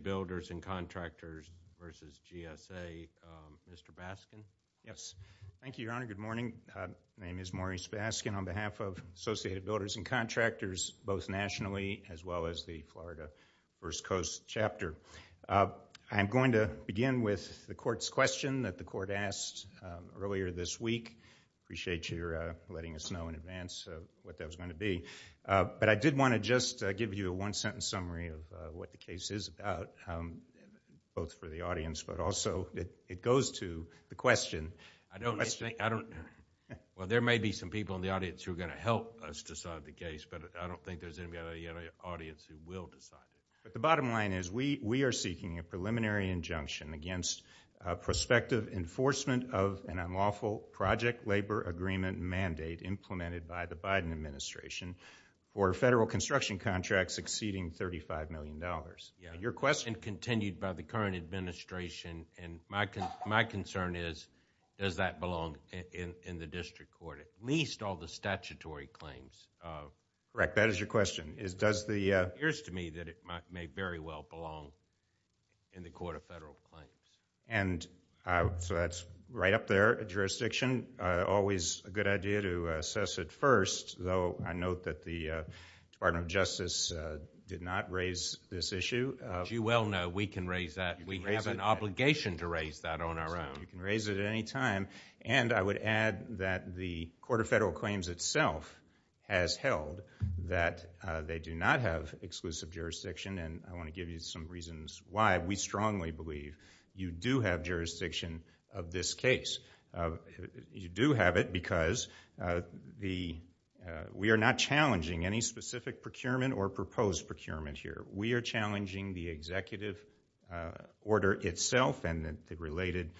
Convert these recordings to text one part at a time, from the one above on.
Associated Builders and Contractors versus GSA, Mr. Baskin. Thank you, Your Honor. Good morning. My name is Maurice Baskin on behalf of Associated Builders and Contractors, both nationally as well as the Florida First Coast Chapter. I'm going to begin with the court's question that the court asked earlier this week. I appreciate your letting us know in advance what that was going to be. But I did want to just give you a one-sentence summary of what the case is about, both for the audience, but also it goes to the question. There may be some people in the audience who are going to help us decide the case, but I don't think there's anybody in the audience who will decide it. The bottom line is we are seeking a preliminary injunction against prospective enforcement of an unlawful project labor agreement mandate implemented by the Biden administration for federal construction contracts exceeding $35 million. Your question... And continued by the current administration, and my concern is, does that belong in the district court? At least all the statutory claims... Correct. That is your question. It appears to me that it may very well belong in the court of federal claims. And so that's right up there, jurisdiction. Always a good idea to assess it first, though I note that the Department of Justice did not raise this issue. As you well know, we can raise that. We have an obligation to raise that on our own. So you can raise it at any time. And I would add that the court of federal claims itself has held that they do not have exclusive jurisdiction, and I want to give you some reasons why we strongly believe you do have jurisdiction of this case. You do have it because we are not challenging any specific procurement or proposed procurement here. We are challenging the executive order itself and the related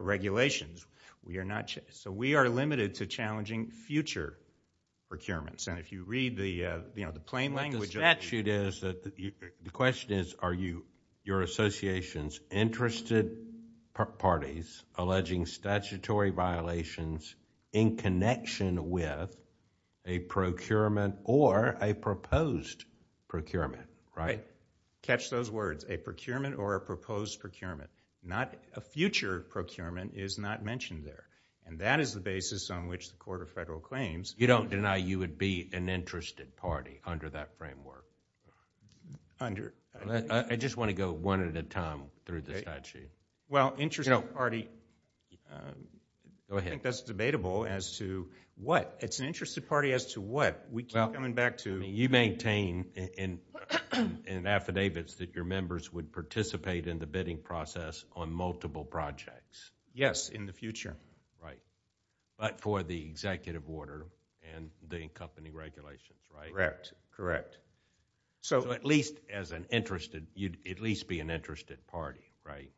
regulations. So we are limited to challenging future procurements. And if you read the plain language... The question is, are your associations interested parties alleging statutory violations in connection with a procurement or a proposed procurement, right? Catch those words, a procurement or a proposed procurement. Not a future procurement is not mentioned there. And that is the basis on which the court of federal claims... I just want to go one at a time through the statute. Well, interested party... Go ahead. I think that is debatable as to what. It is an interested party as to what. We keep coming back to... I mean, you maintain in affidavits that your members would participate in the bidding process on multiple projects. Yes, in the future. Right. But for the executive order and the accompanying regulations, right? Correct. So, at least as an interested... you would at least be an interested party, right?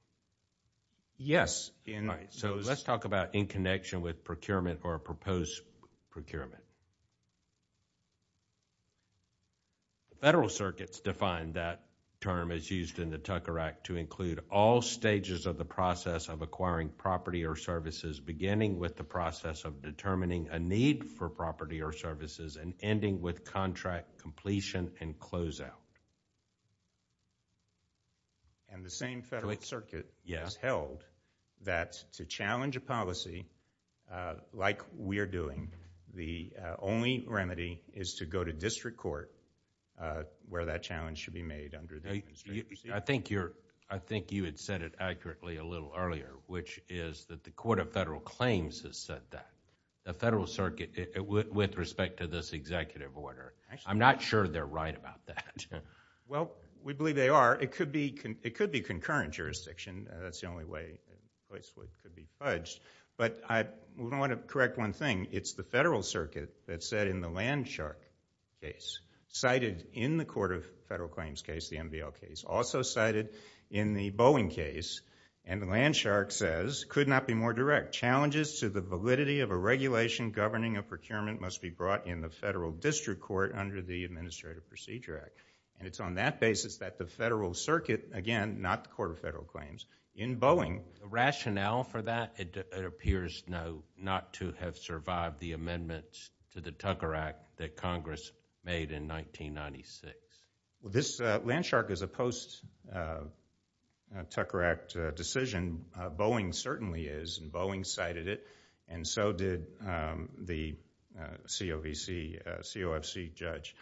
Yes. Right. So, let's talk about in connection with procurement or a proposed procurement. Federal circuits define that term as used in the Tucker Act to include all stages of the process of acquiring property or services beginning with the process of determining a need for property or services and ending with contract completion and closeout. And the same federal circuit... Yes.... has held that to challenge a policy like we are doing, the only remedy is to go to district court where that challenge should be made under the... I think you had said it accurately a little earlier, which is that the court of federal claims has said that. The federal circuit, with respect to this executive order, I'm not sure they're right about that. Well, we believe they are. It could be concurrent jurisdiction, that's the only way it could be fudged. But I want to correct one thing, it's the federal circuit that said in the Landshark case, cited in the court of federal claims case, the MVL case, also cited in the Boeing case and the Landshark says, could not be more direct. Challenges to the validity of a regulation governing a procurement must be brought in the federal district court under the Administrative Procedure Act. And it's on that basis that the federal circuit, again, not the court of federal claims, in Boeing... Rationale for that, it appears no, not to have survived the amendments to the Tucker Act that Congress made in 1996. This Landshark is a post-Tucker Act decision, Boeing certainly is, and Boeing cited it, and so did the COFC judge.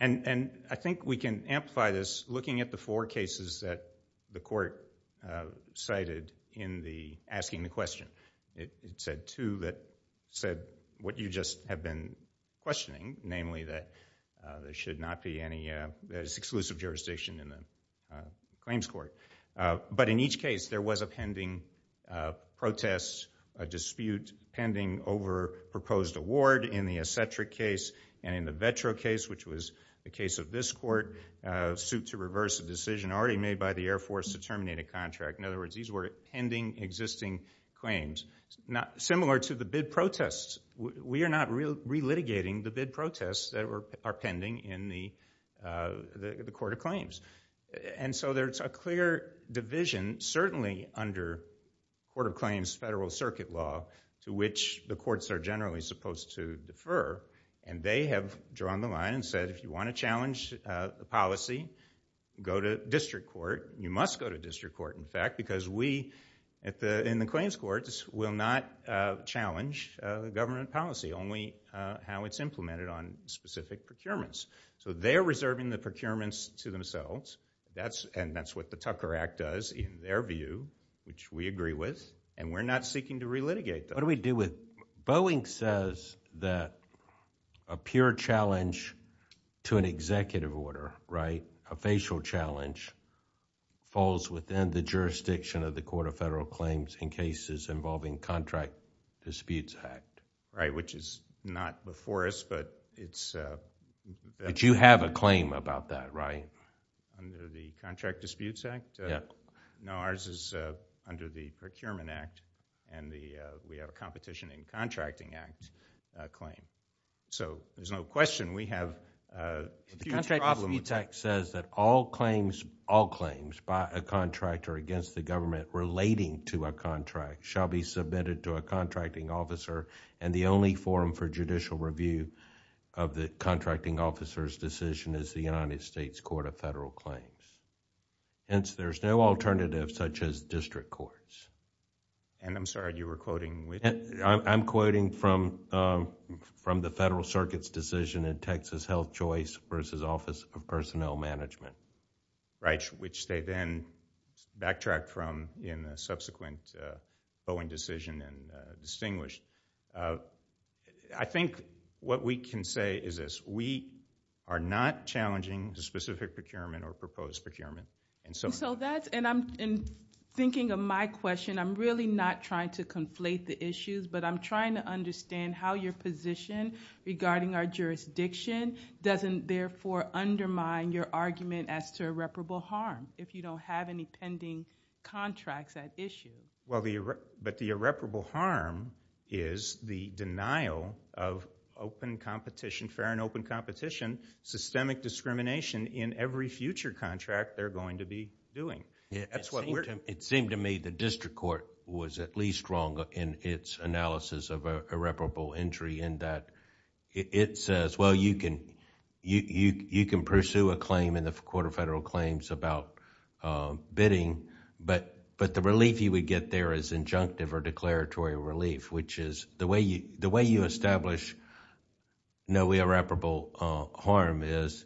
And I think we can amplify this looking at the four cases that the court cited in the asking the question. It said two that said what you just have been questioning, namely that there should not be any exclusive jurisdiction in the claims court. But in each case, there was a pending protest, a dispute, pending over proposed award in the Escentric case and in the Vetro case, which was the case of this court, suit to reverse a decision already made by the Air Force to terminate a contract. In other words, these were pending existing claims. Similar to the bid protests, we are not relitigating the bid protests that are pending in the court of claims. And so there's a clear division, certainly under court of claims, federal circuit law, to which the courts are generally supposed to defer. And they have drawn the line and said if you want to challenge the policy, go to district court. You must go to district court, in fact, because we in the claims courts will not challenge the government policy, only how it's implemented on specific procurements. So they're reserving the procurements to themselves. And that's what the Tucker Act does in their view, which we agree with, and we're not seeking to relitigate them. What do we do with... Boeing says that a pure challenge to an executive order, right, a facial challenge, falls within the jurisdiction of the Court of Federal Claims in cases involving Contract Disputes Act. Right, which is not before us, but it's... But you have a claim about that, right? Under the Contract Disputes Act? Yeah. No, ours is under the Procurement Act, and we have a competition in Contracting Act claim. So there's no question, we have a huge problem... The Contract Disputes Act says that all claims, all claims, by a contractor against the government relating to a contract shall be submitted to a contracting officer, and the only forum for judicial review of the contracting officer's decision is the United States Court of Federal Claims. Hence, there's no alternative such as district courts. And I'm sorry, you were quoting... I'm quoting from the Federal Circuit's decision in Texas Health Choice versus Office of Personnel Management. Right, which they then backtracked from in the subsequent Boeing decision and distinguished. I think what we can say is this, we are not challenging the specific procurement or proposed procurement. And so that's... and thinking of my question, I'm really not trying to conflate the issues, but I'm trying to understand how your position regarding our jurisdiction doesn't therefore undermine your argument as to irreparable harm, if you don't have any pending contracts at issue. Well, but the irreparable harm is the denial of fair and open competition, systemic discrimination in every future contract they're going to be doing. It seemed to me the district court was at least wrong in its analysis of irreparable injury in that it says, well, you can pursue a claim in the Court of Federal Claims about bidding, but the relief you would get there is injunctive or declaratory relief, which is the way you establish no irreparable harm is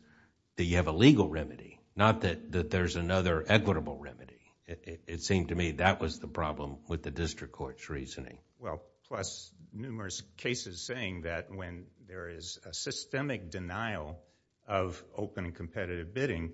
that you have a legal remedy, not that there's another equitable remedy. It seemed to me that was the problem with the district court's reasoning. Well, plus numerous cases saying that when there is a systemic denial of open competitive bidding,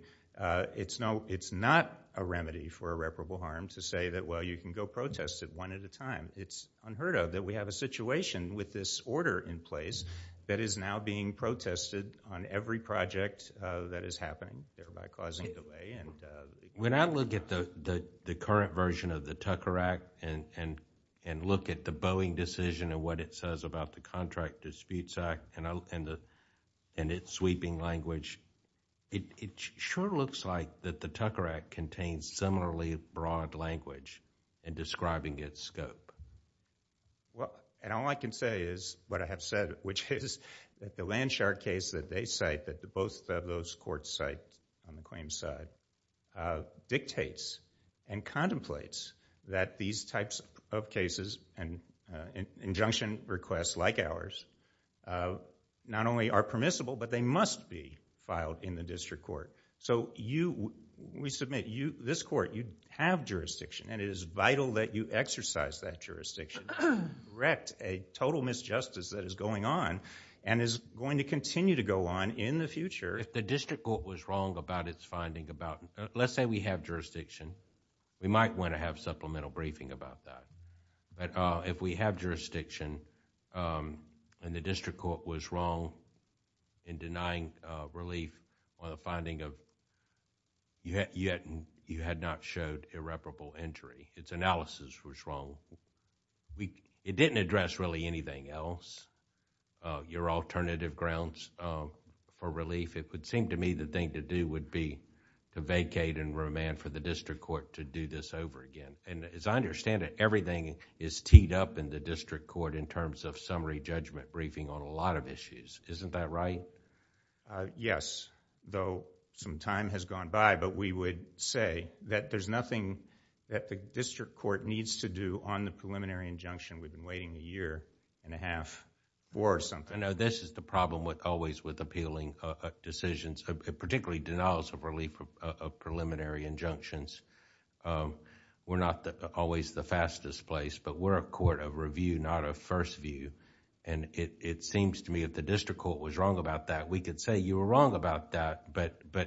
it's not a remedy for irreparable harm to say that, well, you can go protest it one at a time. It's unheard of that we have a situation with this order in place that is now being protested on every project that is happening, thereby causing delay. When I look at the current version of the Tucker Act and look at the Boeing decision and what it says about the Contract Disputes Act and its sweeping language, it sure looks like that the Tucker Act contains similarly broad language in describing its scope. All I can say is what I have said, which is that the Landshark case that they cite, that both of those courts cite on the claims side, dictates and contemplates that these types of cases and injunction requests like ours, not only are permissible, but they must be filed in the district court. When we submit, this court, you have jurisdiction and it is vital that you exercise that jurisdiction to correct a total misjustice that is going on and is going to continue to go on in the future. If the district court was wrong about its finding about... Let's say we have jurisdiction. We might want to have supplemental briefing about that. If we have jurisdiction and the district court was wrong in denying relief on the finding of... you had not showed irreparable injury. Its analysis was wrong. It didn't address really anything else. Your alternative grounds for relief, it would seem to me the thing to do would be to vacate and remand for the district court to do this over again. As I understand it, everything is teed up in the district court in terms of summary judgment briefing on a lot of issues. Isn't that right? Yes, though some time has gone by. We would say that there's nothing that the district court needs to do on the preliminary injunction. We've been waiting a year and a half or something. No, this is the problem always with appealing decisions, particularly denials of relief of preliminary injunctions. We're not always the fastest place, but we're a court of review, not of first view. It seems to me that the district court was wrong about that. We could say you were wrong about that, but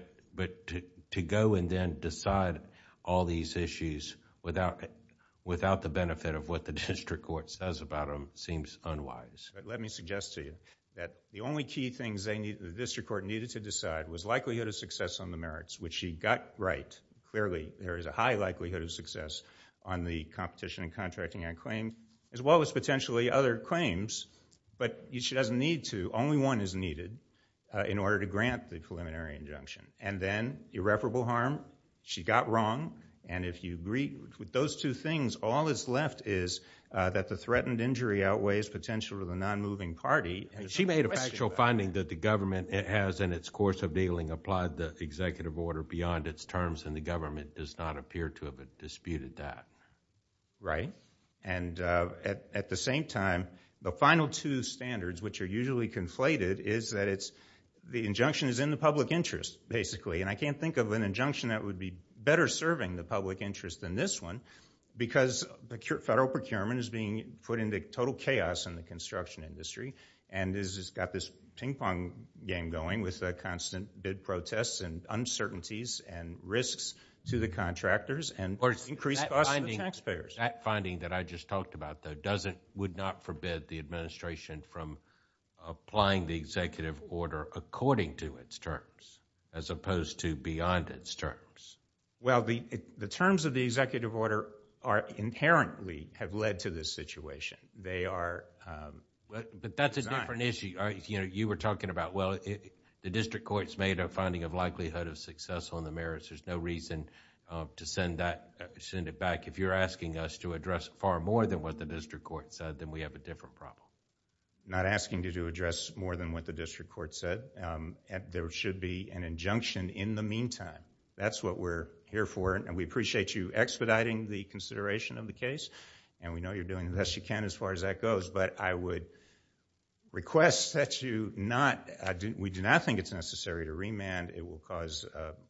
to go and then decide all these issues without the benefit of what the district court says about them seems unwise. Let me suggest to you that the only key things the district court needed to decide was likelihood of success on the merits, which she got right. Clearly, there is a high likelihood of success on the competition and contracting on claims, as well as potentially other claims, but she doesn't need to. Only one is needed in order to grant the preliminary injunction. Then irreparable harm, she got wrong. If you agree with those two things, all that's left is that the threatened injury outweighs potential to the non-moving party. She made a factual finding that the government has, in its course of dealing, applied the executive order beyond its terms, and the government does not appear to have disputed that. Right. At the same time, the final two standards, which are usually conflated, is that the injunction is in the public interest, basically. I can't think of an injunction that would be better serving the public interest than this one because federal procurement is being put into total chaos in the construction industry and has got this ping-pong game going with constant bid protests and uncertainties and risks to the contractors and increased costs to the taxpayers. That finding that I just talked about, though, would not forbid the administration from applying the executive order according to its terms, as opposed to beyond its terms. The terms of the executive order inherently have led to this situation. They are designed... That's a different issue. You were talking about, well, the district court's made a finding of likelihood of success on the merits. There's no reason to send it back. If you're asking us to address far more than what the district court said, then we have a different problem. Not asking you to address more than what the district court said. There should be an injunction in the meantime. That's what we're here for. We appreciate you expediting the consideration of the case. We know you're doing the best you can as far as that goes, but I would request that you not... We do not think it's necessary to remand. It will cause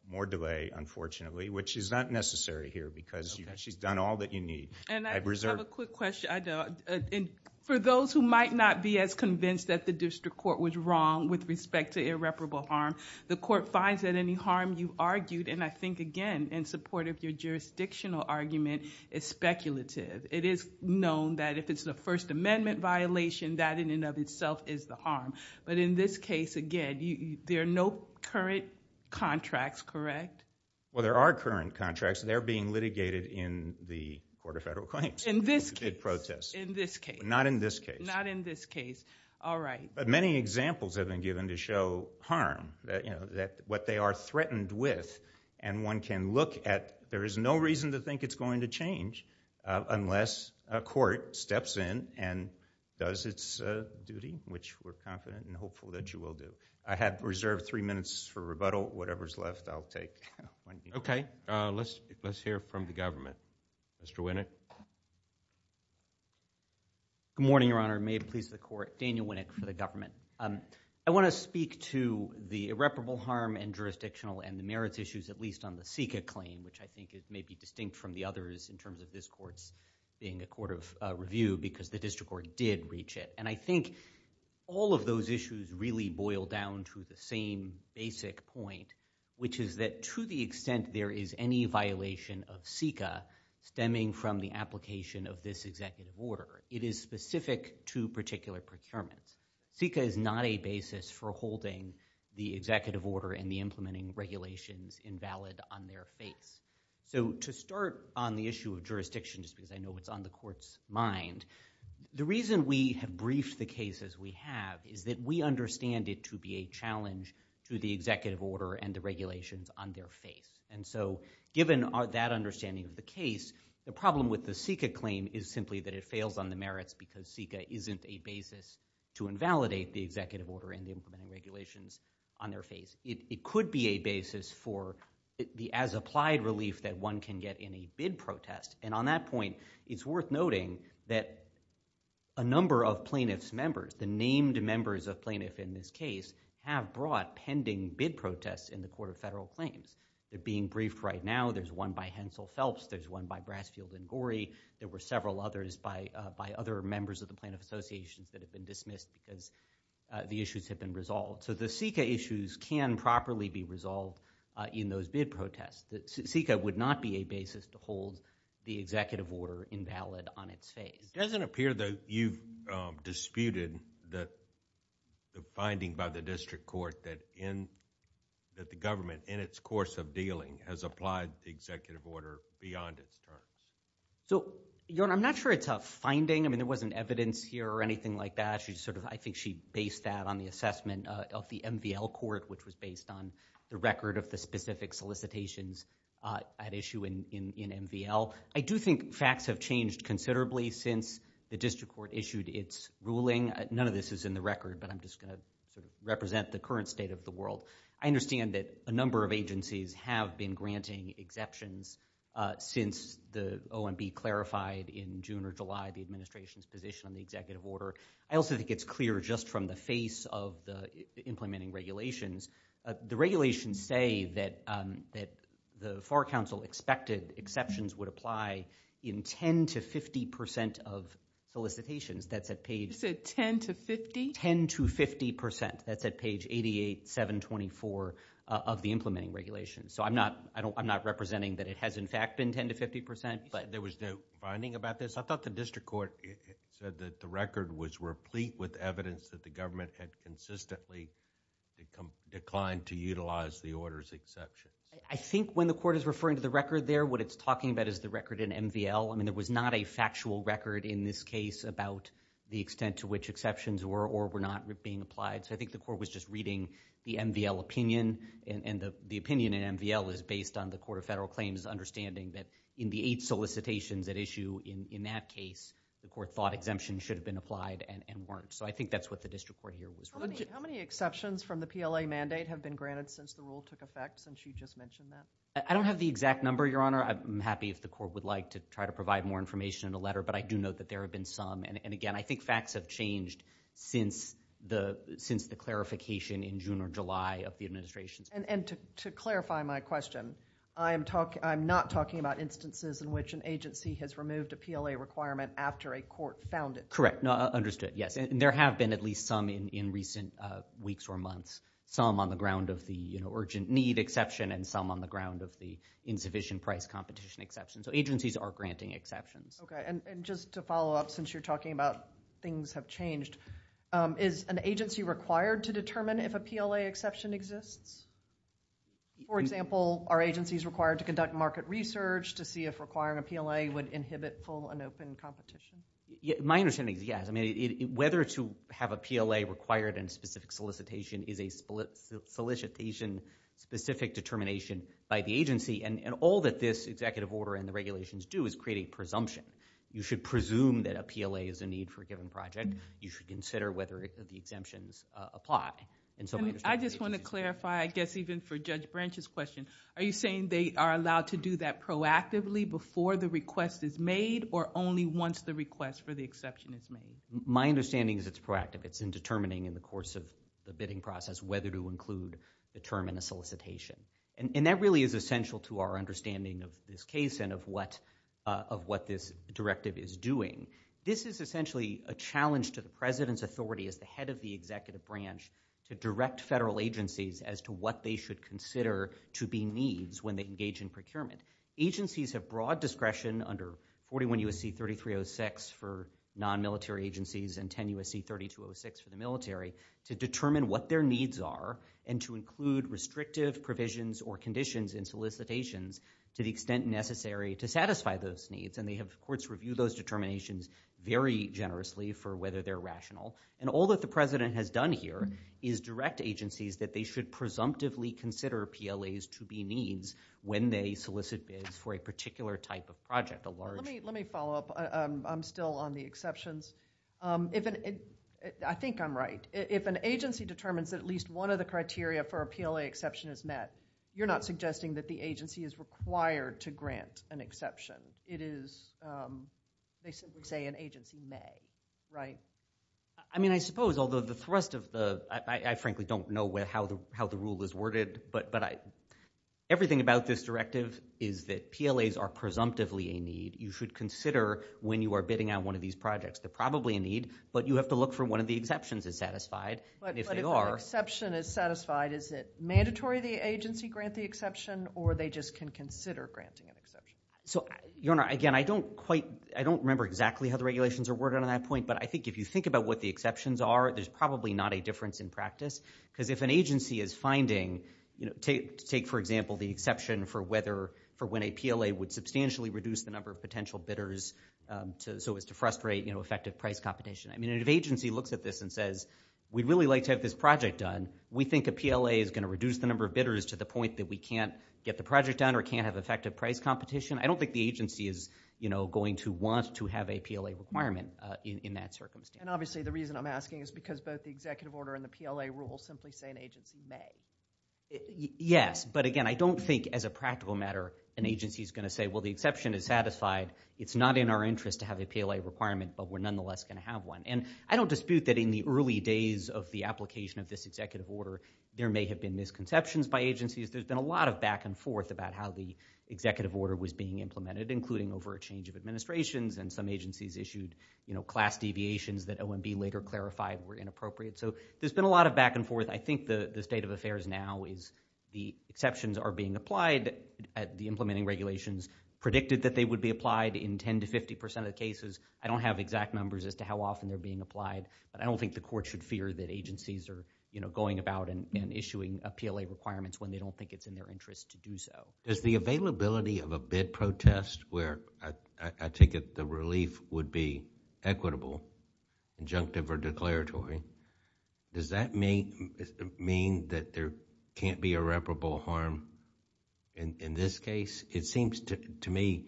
more delay, unfortunately, which is not necessary here because she's done all that you need. I reserve... I just have a quick question. For those who might not be as convinced that the district court was wrong with respect to irreparable harm, the court finds that any harm you argued, and I think, again, in support of your jurisdictional argument, is speculative. It is known that if it's a First Amendment violation, that in and of itself is the harm. In this case, again, there are no current contracts, correct? Well, there are current contracts. They're being litigated in the Court of Federal Claims. In this case? In this case? Not in this case. Not in this case. All right. Many examples have been given to show harm, what they are threatened with, and one can look at... There is no reason to think it's going to change unless a court steps in and does its duty, which we're confident and hopeful that you will do. I have reserved three minutes for rebuttal. Whatever's left, I'll take. Okay. Let's hear from the government. Mr. Winnick? Good morning, Your Honor. May it please the Court. Daniel Winnick for the government. I want to speak to the irreparable harm and jurisdictional and the merits issues, at least on the SICA claim, which I think may be distinct from the others in terms of this court's being a court of review because the district court did reach it. And I think, again, it's important to understand that the district court did reach it. And I think all of those issues really boil down to the same basic point, which is that to the extent there is any violation of SICA stemming from the application of this executive order, it is specific to particular procurements. SICA is not a basis for holding the executive order and the implementing regulations invalid on their face. So to start on the issue of jurisdiction, just because I know it's on the Court's mind, the reason we have briefed the cases we have is that we understand it to be a challenge to the executive order and the regulations on their face. And so given that understanding of the case, the problem with the SICA claim is simply that it fails on the merits because SICA isn't a basis to invalidate the executive order and the implementing regulations on their face. It could be a basis for the as-applied relief that one can get in a bid protest. And on that point, it's worth noting that a number of plaintiff's members, the named members of plaintiff in this case, have brought pending bid protests in the Court of Federal Claims. They're being briefed right now. There's one by Hensel Phelps. There's one by Brasfield and Gorry. There were several others by other members of the plaintiff associations that have been dismissed because the issues have been resolved. So the SICA issues can properly be resolved in those bid protests. SICA would not be a basis to hold the executive order invalid on its face. It doesn't appear that you've disputed the finding by the district court that the government in its course of dealing has applied the executive order beyond its terms. So I'm not sure it's a finding. I mean, there wasn't evidence here or anything like that. I think she based that on the assessment of the MVL court, which was based on the record of the specific solicitations at issue in MVL. I do think facts have changed considerably since the district court issued its ruling. None of this is in the record, but I'm just going to sort of represent the current state of the world. I understand that a number of agencies have been granting exceptions since the OMB clarified in June or July the administration's position on the executive order. I also think it's clear just from the face of the implementing regulations, the regulations say that the FAR Council expected exceptions would apply in 10 to 50 percent of solicitations. That's at page... You said 10 to 50? 10 to 50 percent. That's at page 88, 724 of the implementing regulations. So I'm not representing that it has in fact been 10 to 50 percent, but... There was no finding about this? I thought the district court said that the record was replete with evidence that the government had consistently declined to utilize the order's exceptions. I think when the court is referring to the record there, what it's talking about is the record in MVL. I mean, there was not a factual record in this case about the extent to which exceptions were or were not being applied. So I think the court was just reading the MVL opinion, and the opinion in MVL is based on the Court of Federal Claims' understanding that in the eight solicitations at issue in that case, the court thought exemptions should have been applied and weren't. So I think that's what the district court here was... How many exceptions from the PLA mandate have been granted since the rule took effect, since you just mentioned that? I don't have the exact number, Your Honor. I'm happy if the court would like to try to provide more information in a letter, but I do know that there have been some. And again, I think facts have changed since the clarification in June or July of the administration's And to clarify my question, I'm not talking about instances in which an agency has removed a PLA requirement after a court found it. Correct. Understood. Yes. And there have been at least some in recent weeks or months. Some on the ground of the urgent need exception and some on the ground of the insufficient price competition exception. So agencies are granting exceptions. Okay. And just to follow up, since you're talking about things have changed, is an agency required to determine if a PLA exception exists? For example, are agencies required to conduct market research to see if requiring a PLA would inhibit full and open competition? My understanding is yes. I mean, whether to have a PLA required in specific solicitation is a solicitation specific determination by the agency. And all that this executive order and the regulations do is create a presumption. You should presume that a PLA is a need for a given project. You should consider whether the exemptions apply. And so I just want to clarify, I guess even for Judge Branch's question, are you saying they are allowed to do that proactively before the request is made or only once the request for the exception is made? My understanding is it's proactive. It's in determining in the course of the bidding process whether to include the term in a solicitation. And that really is essential to our understanding of this case and of what this directive is doing. This is essentially a challenge to the president's authority as the head of the executive branch to direct federal agencies as to what they should consider to be needs when they engage in procurement. Agencies have broad discretion under 41 U.S.C. 3306 for non-military agencies and 10 U.S.C. 3206 for the military to determine what their needs are and to include restrictive provisions or conditions in solicitations to the extent necessary to satisfy those needs. And they have, of course, reviewed those determinations very generously for whether they're rational. And all that the president has done here is direct agencies that they should presumptively consider PLAs to be needs when they solicit bids for a particular type of project, a large. Let me follow up. I'm still on the exceptions. I think I'm right. If an agency determines at least one of the criteria for a PLA exception is met, you're not suggesting that the agency is required to grant an exception. It is, they simply say an agency may, right? I mean, I suppose, although the thrust of the, I frankly don't know how the rule is worded, but everything about this directive is that PLAs are presumptively a need. You should consider when you are bidding on one of these projects. They're probably a need, but you have to look for when one of the exceptions is satisfied. But if an exception is satisfied, is it mandatory the agency grant the exception or they just can consider granting an exception? So, Your Honor, again, I don't quite, I don't remember exactly how the regulations are worded on that point, but I think if you think about what the exceptions are, there's probably not a difference in practice. Because if an agency is finding, take, for example, the exception for whether, for when a PLA would substantially reduce the number of potential bidders so as to frustrate effective price competition. I mean, if an agency looks at this and says, we'd really like to have this project done, we think a PLA is going to reduce the number of bidders to the point that we can't get the project done or can't have effective price competition. I don't think the agency is, you know, going to want to have a PLA requirement in that circumstance. And obviously the reason I'm asking is because both the executive order and the PLA rule simply say an agency may. Yes, but again, I don't think as a practical matter an agency is going to say, well, the exception is satisfied. It's not in our interest to have a PLA requirement, but we're nonetheless going to have one. And I don't dispute that in the early days of the application of this executive order, there may have been misconceptions by agencies. There's been a lot of back and forth about how the executive order was being implemented, including over a change of administrations and some agencies issued, you know, class deviations that OMB later clarified were inappropriate. So there's been a lot of back and forth. I think the state of affairs now is the exceptions are being applied at the implementing regulations, predicted that they would be applied in 10 to 50% of the cases. I don't have exact numbers as to how often they're being applied, but I don't think the court should fear that agencies are, you know, going about and issuing a PLA requirements when they don't think it's in their interest to do so. Does the availability of a bid protest where I take it the relief would be equitable, injunctive or declaratory, does that mean that there can't be irreparable harm in this case? It seems to me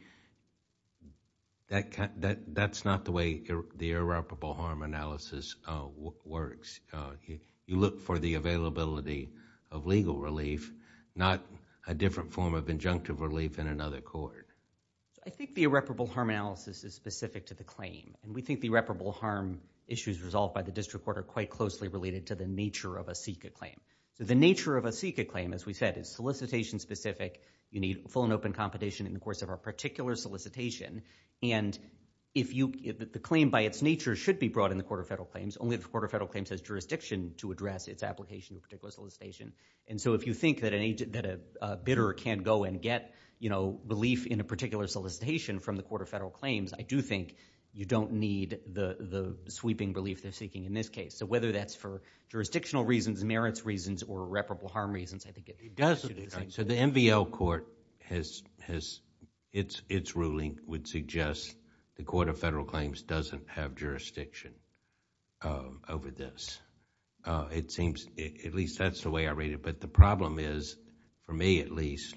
that that's not the way the irreparable harm analysis works. You look for the availability of legal relief, not a different form of injunctive relief in another court. I think the irreparable harm analysis is specific to the claim. And we think the irreparable harm issues resolved by the district court are quite closely related to the nature of a CICA claim. So the nature of a CICA claim, as we said, is solicitation specific. You need full and open competition in the course of a particular solicitation. And if you, the claim by its nature should be brought in the Court of Federal Claims, only the Court of Federal Claims has jurisdiction to address its application of a particular solicitation. And so if you think that a bidder can't go and get, you know, belief in a particular solicitation from the Court of Federal Claims, I do think you don't need the sweeping belief they're seeking in this case. So whether that's for jurisdictional reasons, merits reasons or irreparable harm reasons, I think it does. So the MVL court has, its ruling would suggest the Court of Federal Claims doesn't have jurisdiction over this. It seems, at least that's the way I read it. But the problem is, for me at least,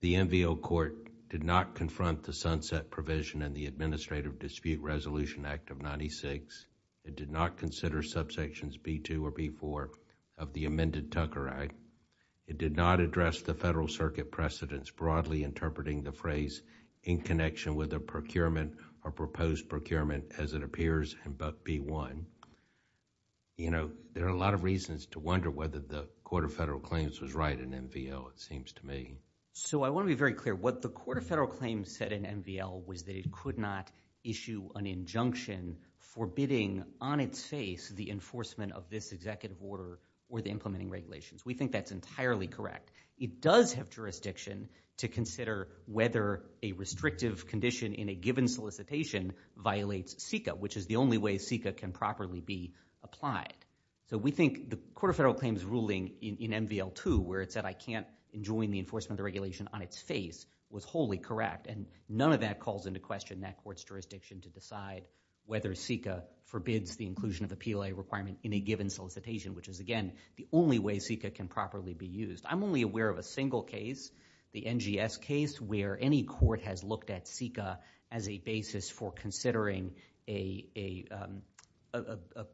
the MVL court did not confront the sunset provision in the Administrative Dispute Resolution Act of 1996. It did not consider subsections B2 or B4 of the amended Tucker Act. It did not address the Federal Circuit precedents broadly interpreting the phrase in connection with a procurement or proposed procurement as it appears in B1. You know, there are a lot of reasons to wonder whether the Court of Federal Claims was right in MVL, it seems to me. So I want to be very clear. What the Court of Federal Claims said in MVL was that it could not issue an injunction forbidding on its face the enforcement of this executive order or the implementing regulations. We think that's entirely correct. It does have jurisdiction to consider whether a restrictive condition in a given solicitation violates CICA, which is the only way CICA can properly be applied. So we think the Court of Federal Claims ruling in MVL2, where it said I can't enjoin the enforcement of regulation on its face, was wholly correct. And none of that calls into question that court's jurisdiction to decide whether CICA forbids the inclusion of a PLA requirement in a given solicitation, which is, again, the only way CICA can properly be used. I'm only aware of a single case, the NGS case, where any court has looked at CICA as a basis for considering a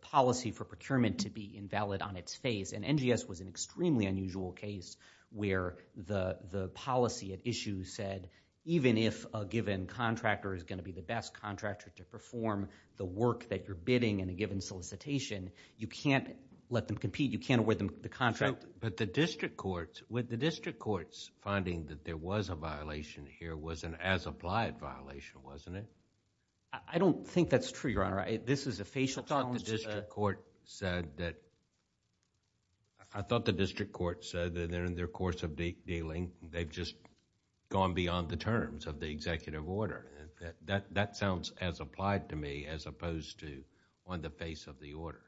policy for procurement to be invalid on its face. And NGS was an extremely unusual case where the policy at issue said even if a given contractor is going to be the best contractor to perform the work that you're bidding in a given solicitation, you can't let them compete. You can't award them the contract. But the district courts, with the district courts finding that there was a violation here was an as-applied violation, wasn't it? I don't think that's true, Your Honor. This is a facial challenge to the... I thought the district court said that they're in their course of dealing. They've just gone beyond the terms of the executive order. That sounds as applied to me as opposed to on the face of the order.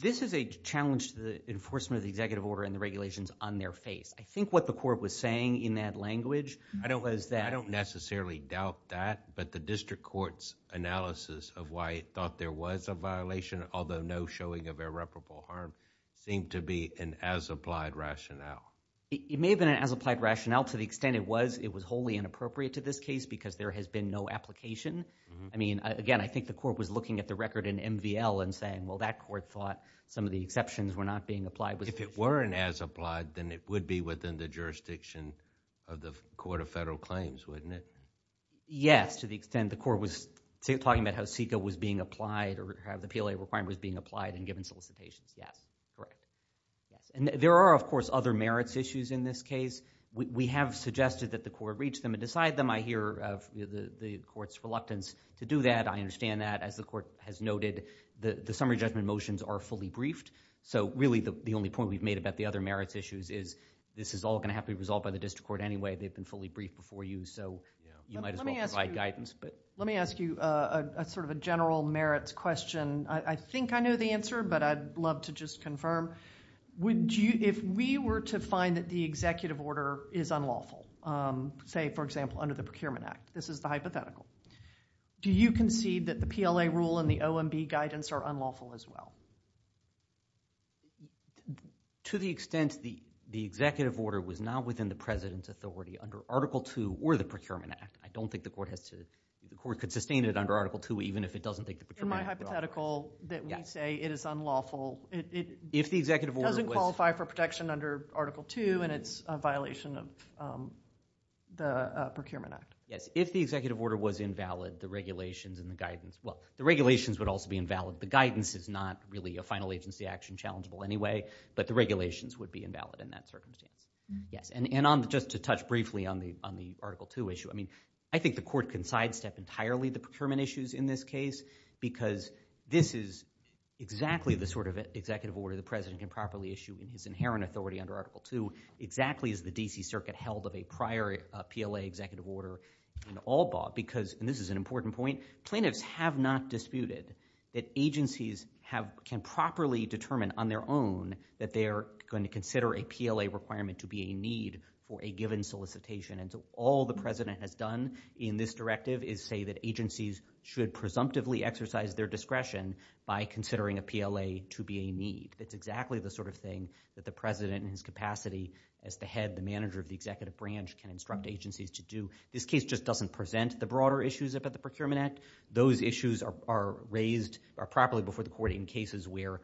This is a challenge to the enforcement of the executive order and the regulations on their face. I think what the court was saying in that language was that... I don't necessarily doubt that, but the district court's analysis of why it thought there was a violation, although no showing of irreparable harm, seemed to be an as-applied rationale. It may have been an as-applied rationale to the extent it was wholly inappropriate to this case because there has been no application. Again, I think the court was looking at the record in MVL and saying, well, that court thought some of the exceptions were not being applied. If it were an as-applied, then it would be within the jurisdiction of the Court of Federal Claims, wouldn't it? Yes, to the extent the court was talking about how CEQA was being applied or how the PLA requirement was being applied and given solicitations. Yes, correct. There are, of course, other merits issues in this case. We have suggested that the court reach them and decide them. I hear the court's reluctance to do that. I understand that. As the court has noted, the summary judgment motions are fully briefed, so really the only point we've made about the other merits issues is this is all going to have to be resolved by the district court anyway. They've been fully briefed before you, so you might as well provide guidance. Let me ask you a general merits question. I think I know the answer, but I'd love to just confirm. Would you, if we were to find that the executive order is unlawful, say, for example, under the Procurement Act, this is the hypothetical, do you concede that the PLA rule and the OMB guidance are unlawful as well? To the extent the executive order was not within the president's authority under Article 2 or the Procurement Act, I don't think the court has to, the court could sustain it under Article 2 even if it doesn't think the Procurement Act is unlawful. In my hypothetical that we say it is unlawful, it doesn't qualify for protection under Article 2 and it's a violation of the Procurement Act. Yes, if the executive order was invalid, the regulations and the guidance, well, the regulations would also be invalid. The guidance is not really a final agency action, challengeable anyway, but the regulations would be invalid in that circumstance. Yes, and just to touch briefly on the Article 2 issue, I mean, I think the court can sidestep entirely the procurement issues in this case because this is exactly the sort of executive order the president can properly issue in his inherent authority under Article 2, exactly as the D.C. Circuit held of a prior PLA executive order in Allbaugh because, and this is an important point, plaintiffs have not disputed that agencies can properly determine on their own that they are going to consider a PLA requirement to be a need for a given solicitation. All the president has done in this directive is say that agencies should presumptively exercise their discretion by considering a PLA to be a need. It's exactly the sort of thing that the president in his capacity as the head, the manager of the executive branch can instruct agencies to do. This case just doesn't present the broader issues about the Procurement Act. Those issues are raised properly before the court in cases where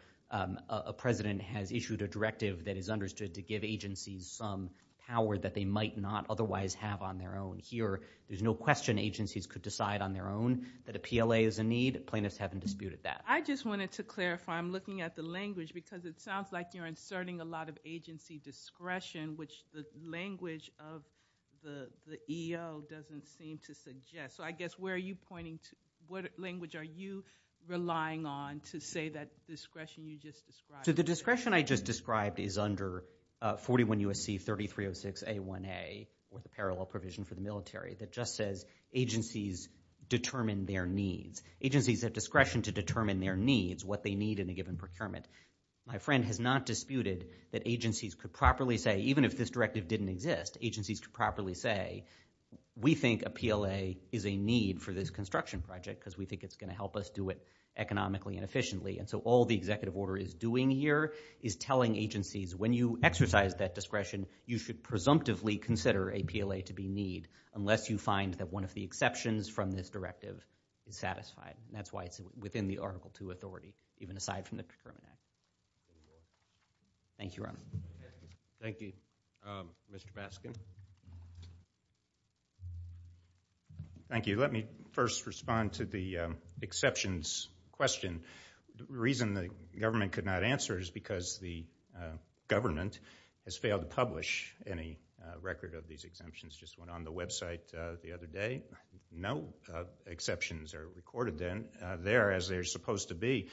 a president has issued a directive that is understood to give agencies some power that they might not otherwise have on their own. Here, there's no question agencies could decide on their own that a PLA is a need. Plaintiffs haven't disputed that. I just wanted to clarify. I'm looking at the language because it sounds like you're inserting a lot of agency discretion, which the language of the EO doesn't seem to suggest. So I guess where are you pointing to? What language are you relying on to say that discretion you just described? The discretion I just described is under 41 U.S.C. 3306 A1A with a parallel provision for the military that just says agencies determine their needs. Agencies have discretion to determine their needs, what they need in a given procurement. My friend has not disputed that agencies could properly say, even if this directive didn't exist, agencies could properly say, we think a PLA is a need for this construction project because we think it's going to help us do it economically and efficiently. So all the executive order is doing here is telling agencies, when you exercise that discretion, you should presumptively consider a PLA to be need unless you find that one of the exceptions from this directive is satisfied. That's why it's within the Article II authority, even aside from the procurement act. Thank you, Ron. Thank you, Mr. Baskin. Thank you. Let me first respond to the exceptions question. The reason the government could not answer is because the government has failed to publish any record of these exemptions. It just went on the website the other day. No exceptions are recorded there, as they're supposed to be.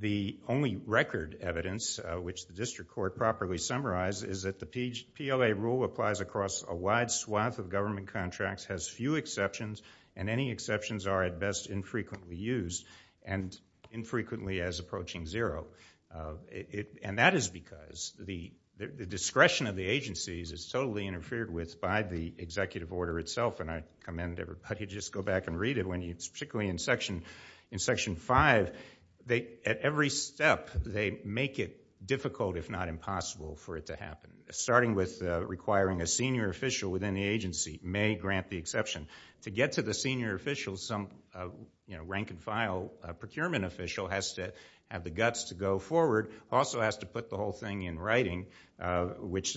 The only record evidence, which the district court properly summarized, is that the PLA rule applies across a wide swath of government contracts, has few exceptions, and any exceptions are at best infrequently used and infrequently as approaching zero. And that is because the discretion of the agencies is totally interfered with by the executive order itself. And I commend everybody to just go back and read it, particularly in Section 5. At every step, they make it difficult, if not impossible, for it to happen, starting with requiring a senior official within the agency may grant the exception. To get to the senior official, some rank-and-file procurement official has to have the guts to go forward, also has to put the whole thing in writing, which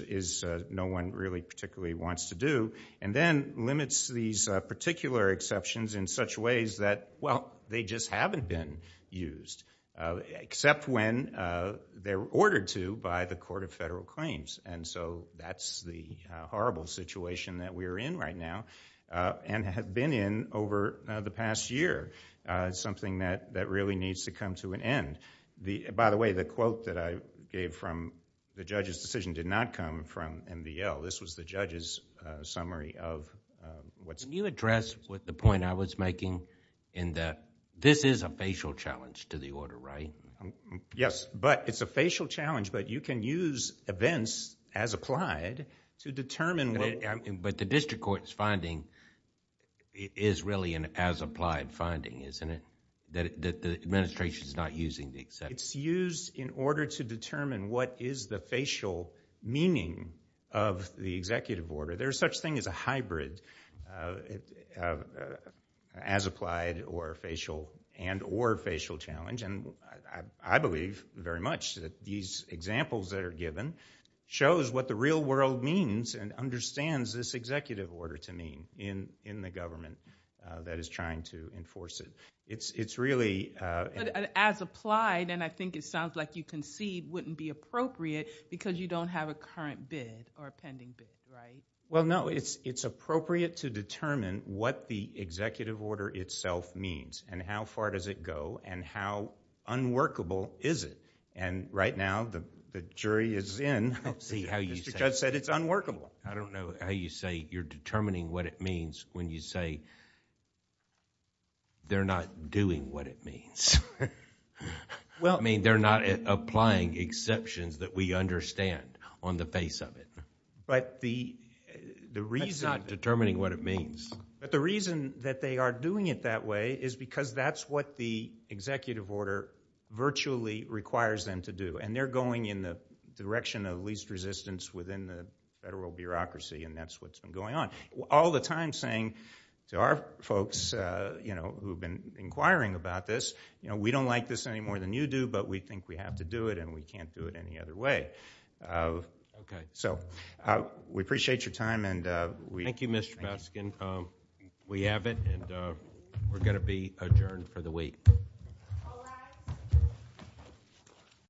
no one really particularly wants to do, and then limits these particular exceptions in such ways that, well, they just haven't been used, except when they're ordered to by the Court of Federal Claims. And so that's the horrible situation that we're in right now, and have been in over the past year. Something that really needs to come to an end. By the way, the quote that I gave from the judge's decision did not come from MVL. This was the judge's summary of what's... Can you address the point I was making in that this is a facial challenge to the order, right? Yes, but it's a facial challenge, but you can use events as applied to determine... But the district court's finding is really an as-applied finding, isn't it? That the administration is not using the exception. It's used in order to determine what is the facial meaning of the executive order. There's such thing as a hybrid, as-applied and or facial challenge, and I believe very much that these examples that are given shows what the real world means and understands this executive order to mean in the government that is trying to enforce it. It's really... As-applied, and I think it sounds like you concede, wouldn't be appropriate because you don't have a current bid or a pending bid, right? Well, no. It's appropriate to determine what the executive order itself means, and how far does it go, and how unworkable is it? Right now, the jury is in. Let's see how you say... Mr. Judge said it's unworkable. I don't know how you say you're determining what it means when you say they're not doing what it means. They're not applying exceptions that we understand on the face of it. But the reason... That's not determining what it means. But the reason that they are doing it that way is because that's what the executive order virtually requires them to do, and they're going in the direction of least resistance within the federal bureaucracy, and that's what's been going on. All the time saying to our folks who've been inquiring about this, we don't like this any more than you do, but we think we have to do it, and we can't do it any other way. Okay. So, we appreciate your time, and we... Thank you, Mr. Baskin. We have it, and we're going to be adjourned for the week.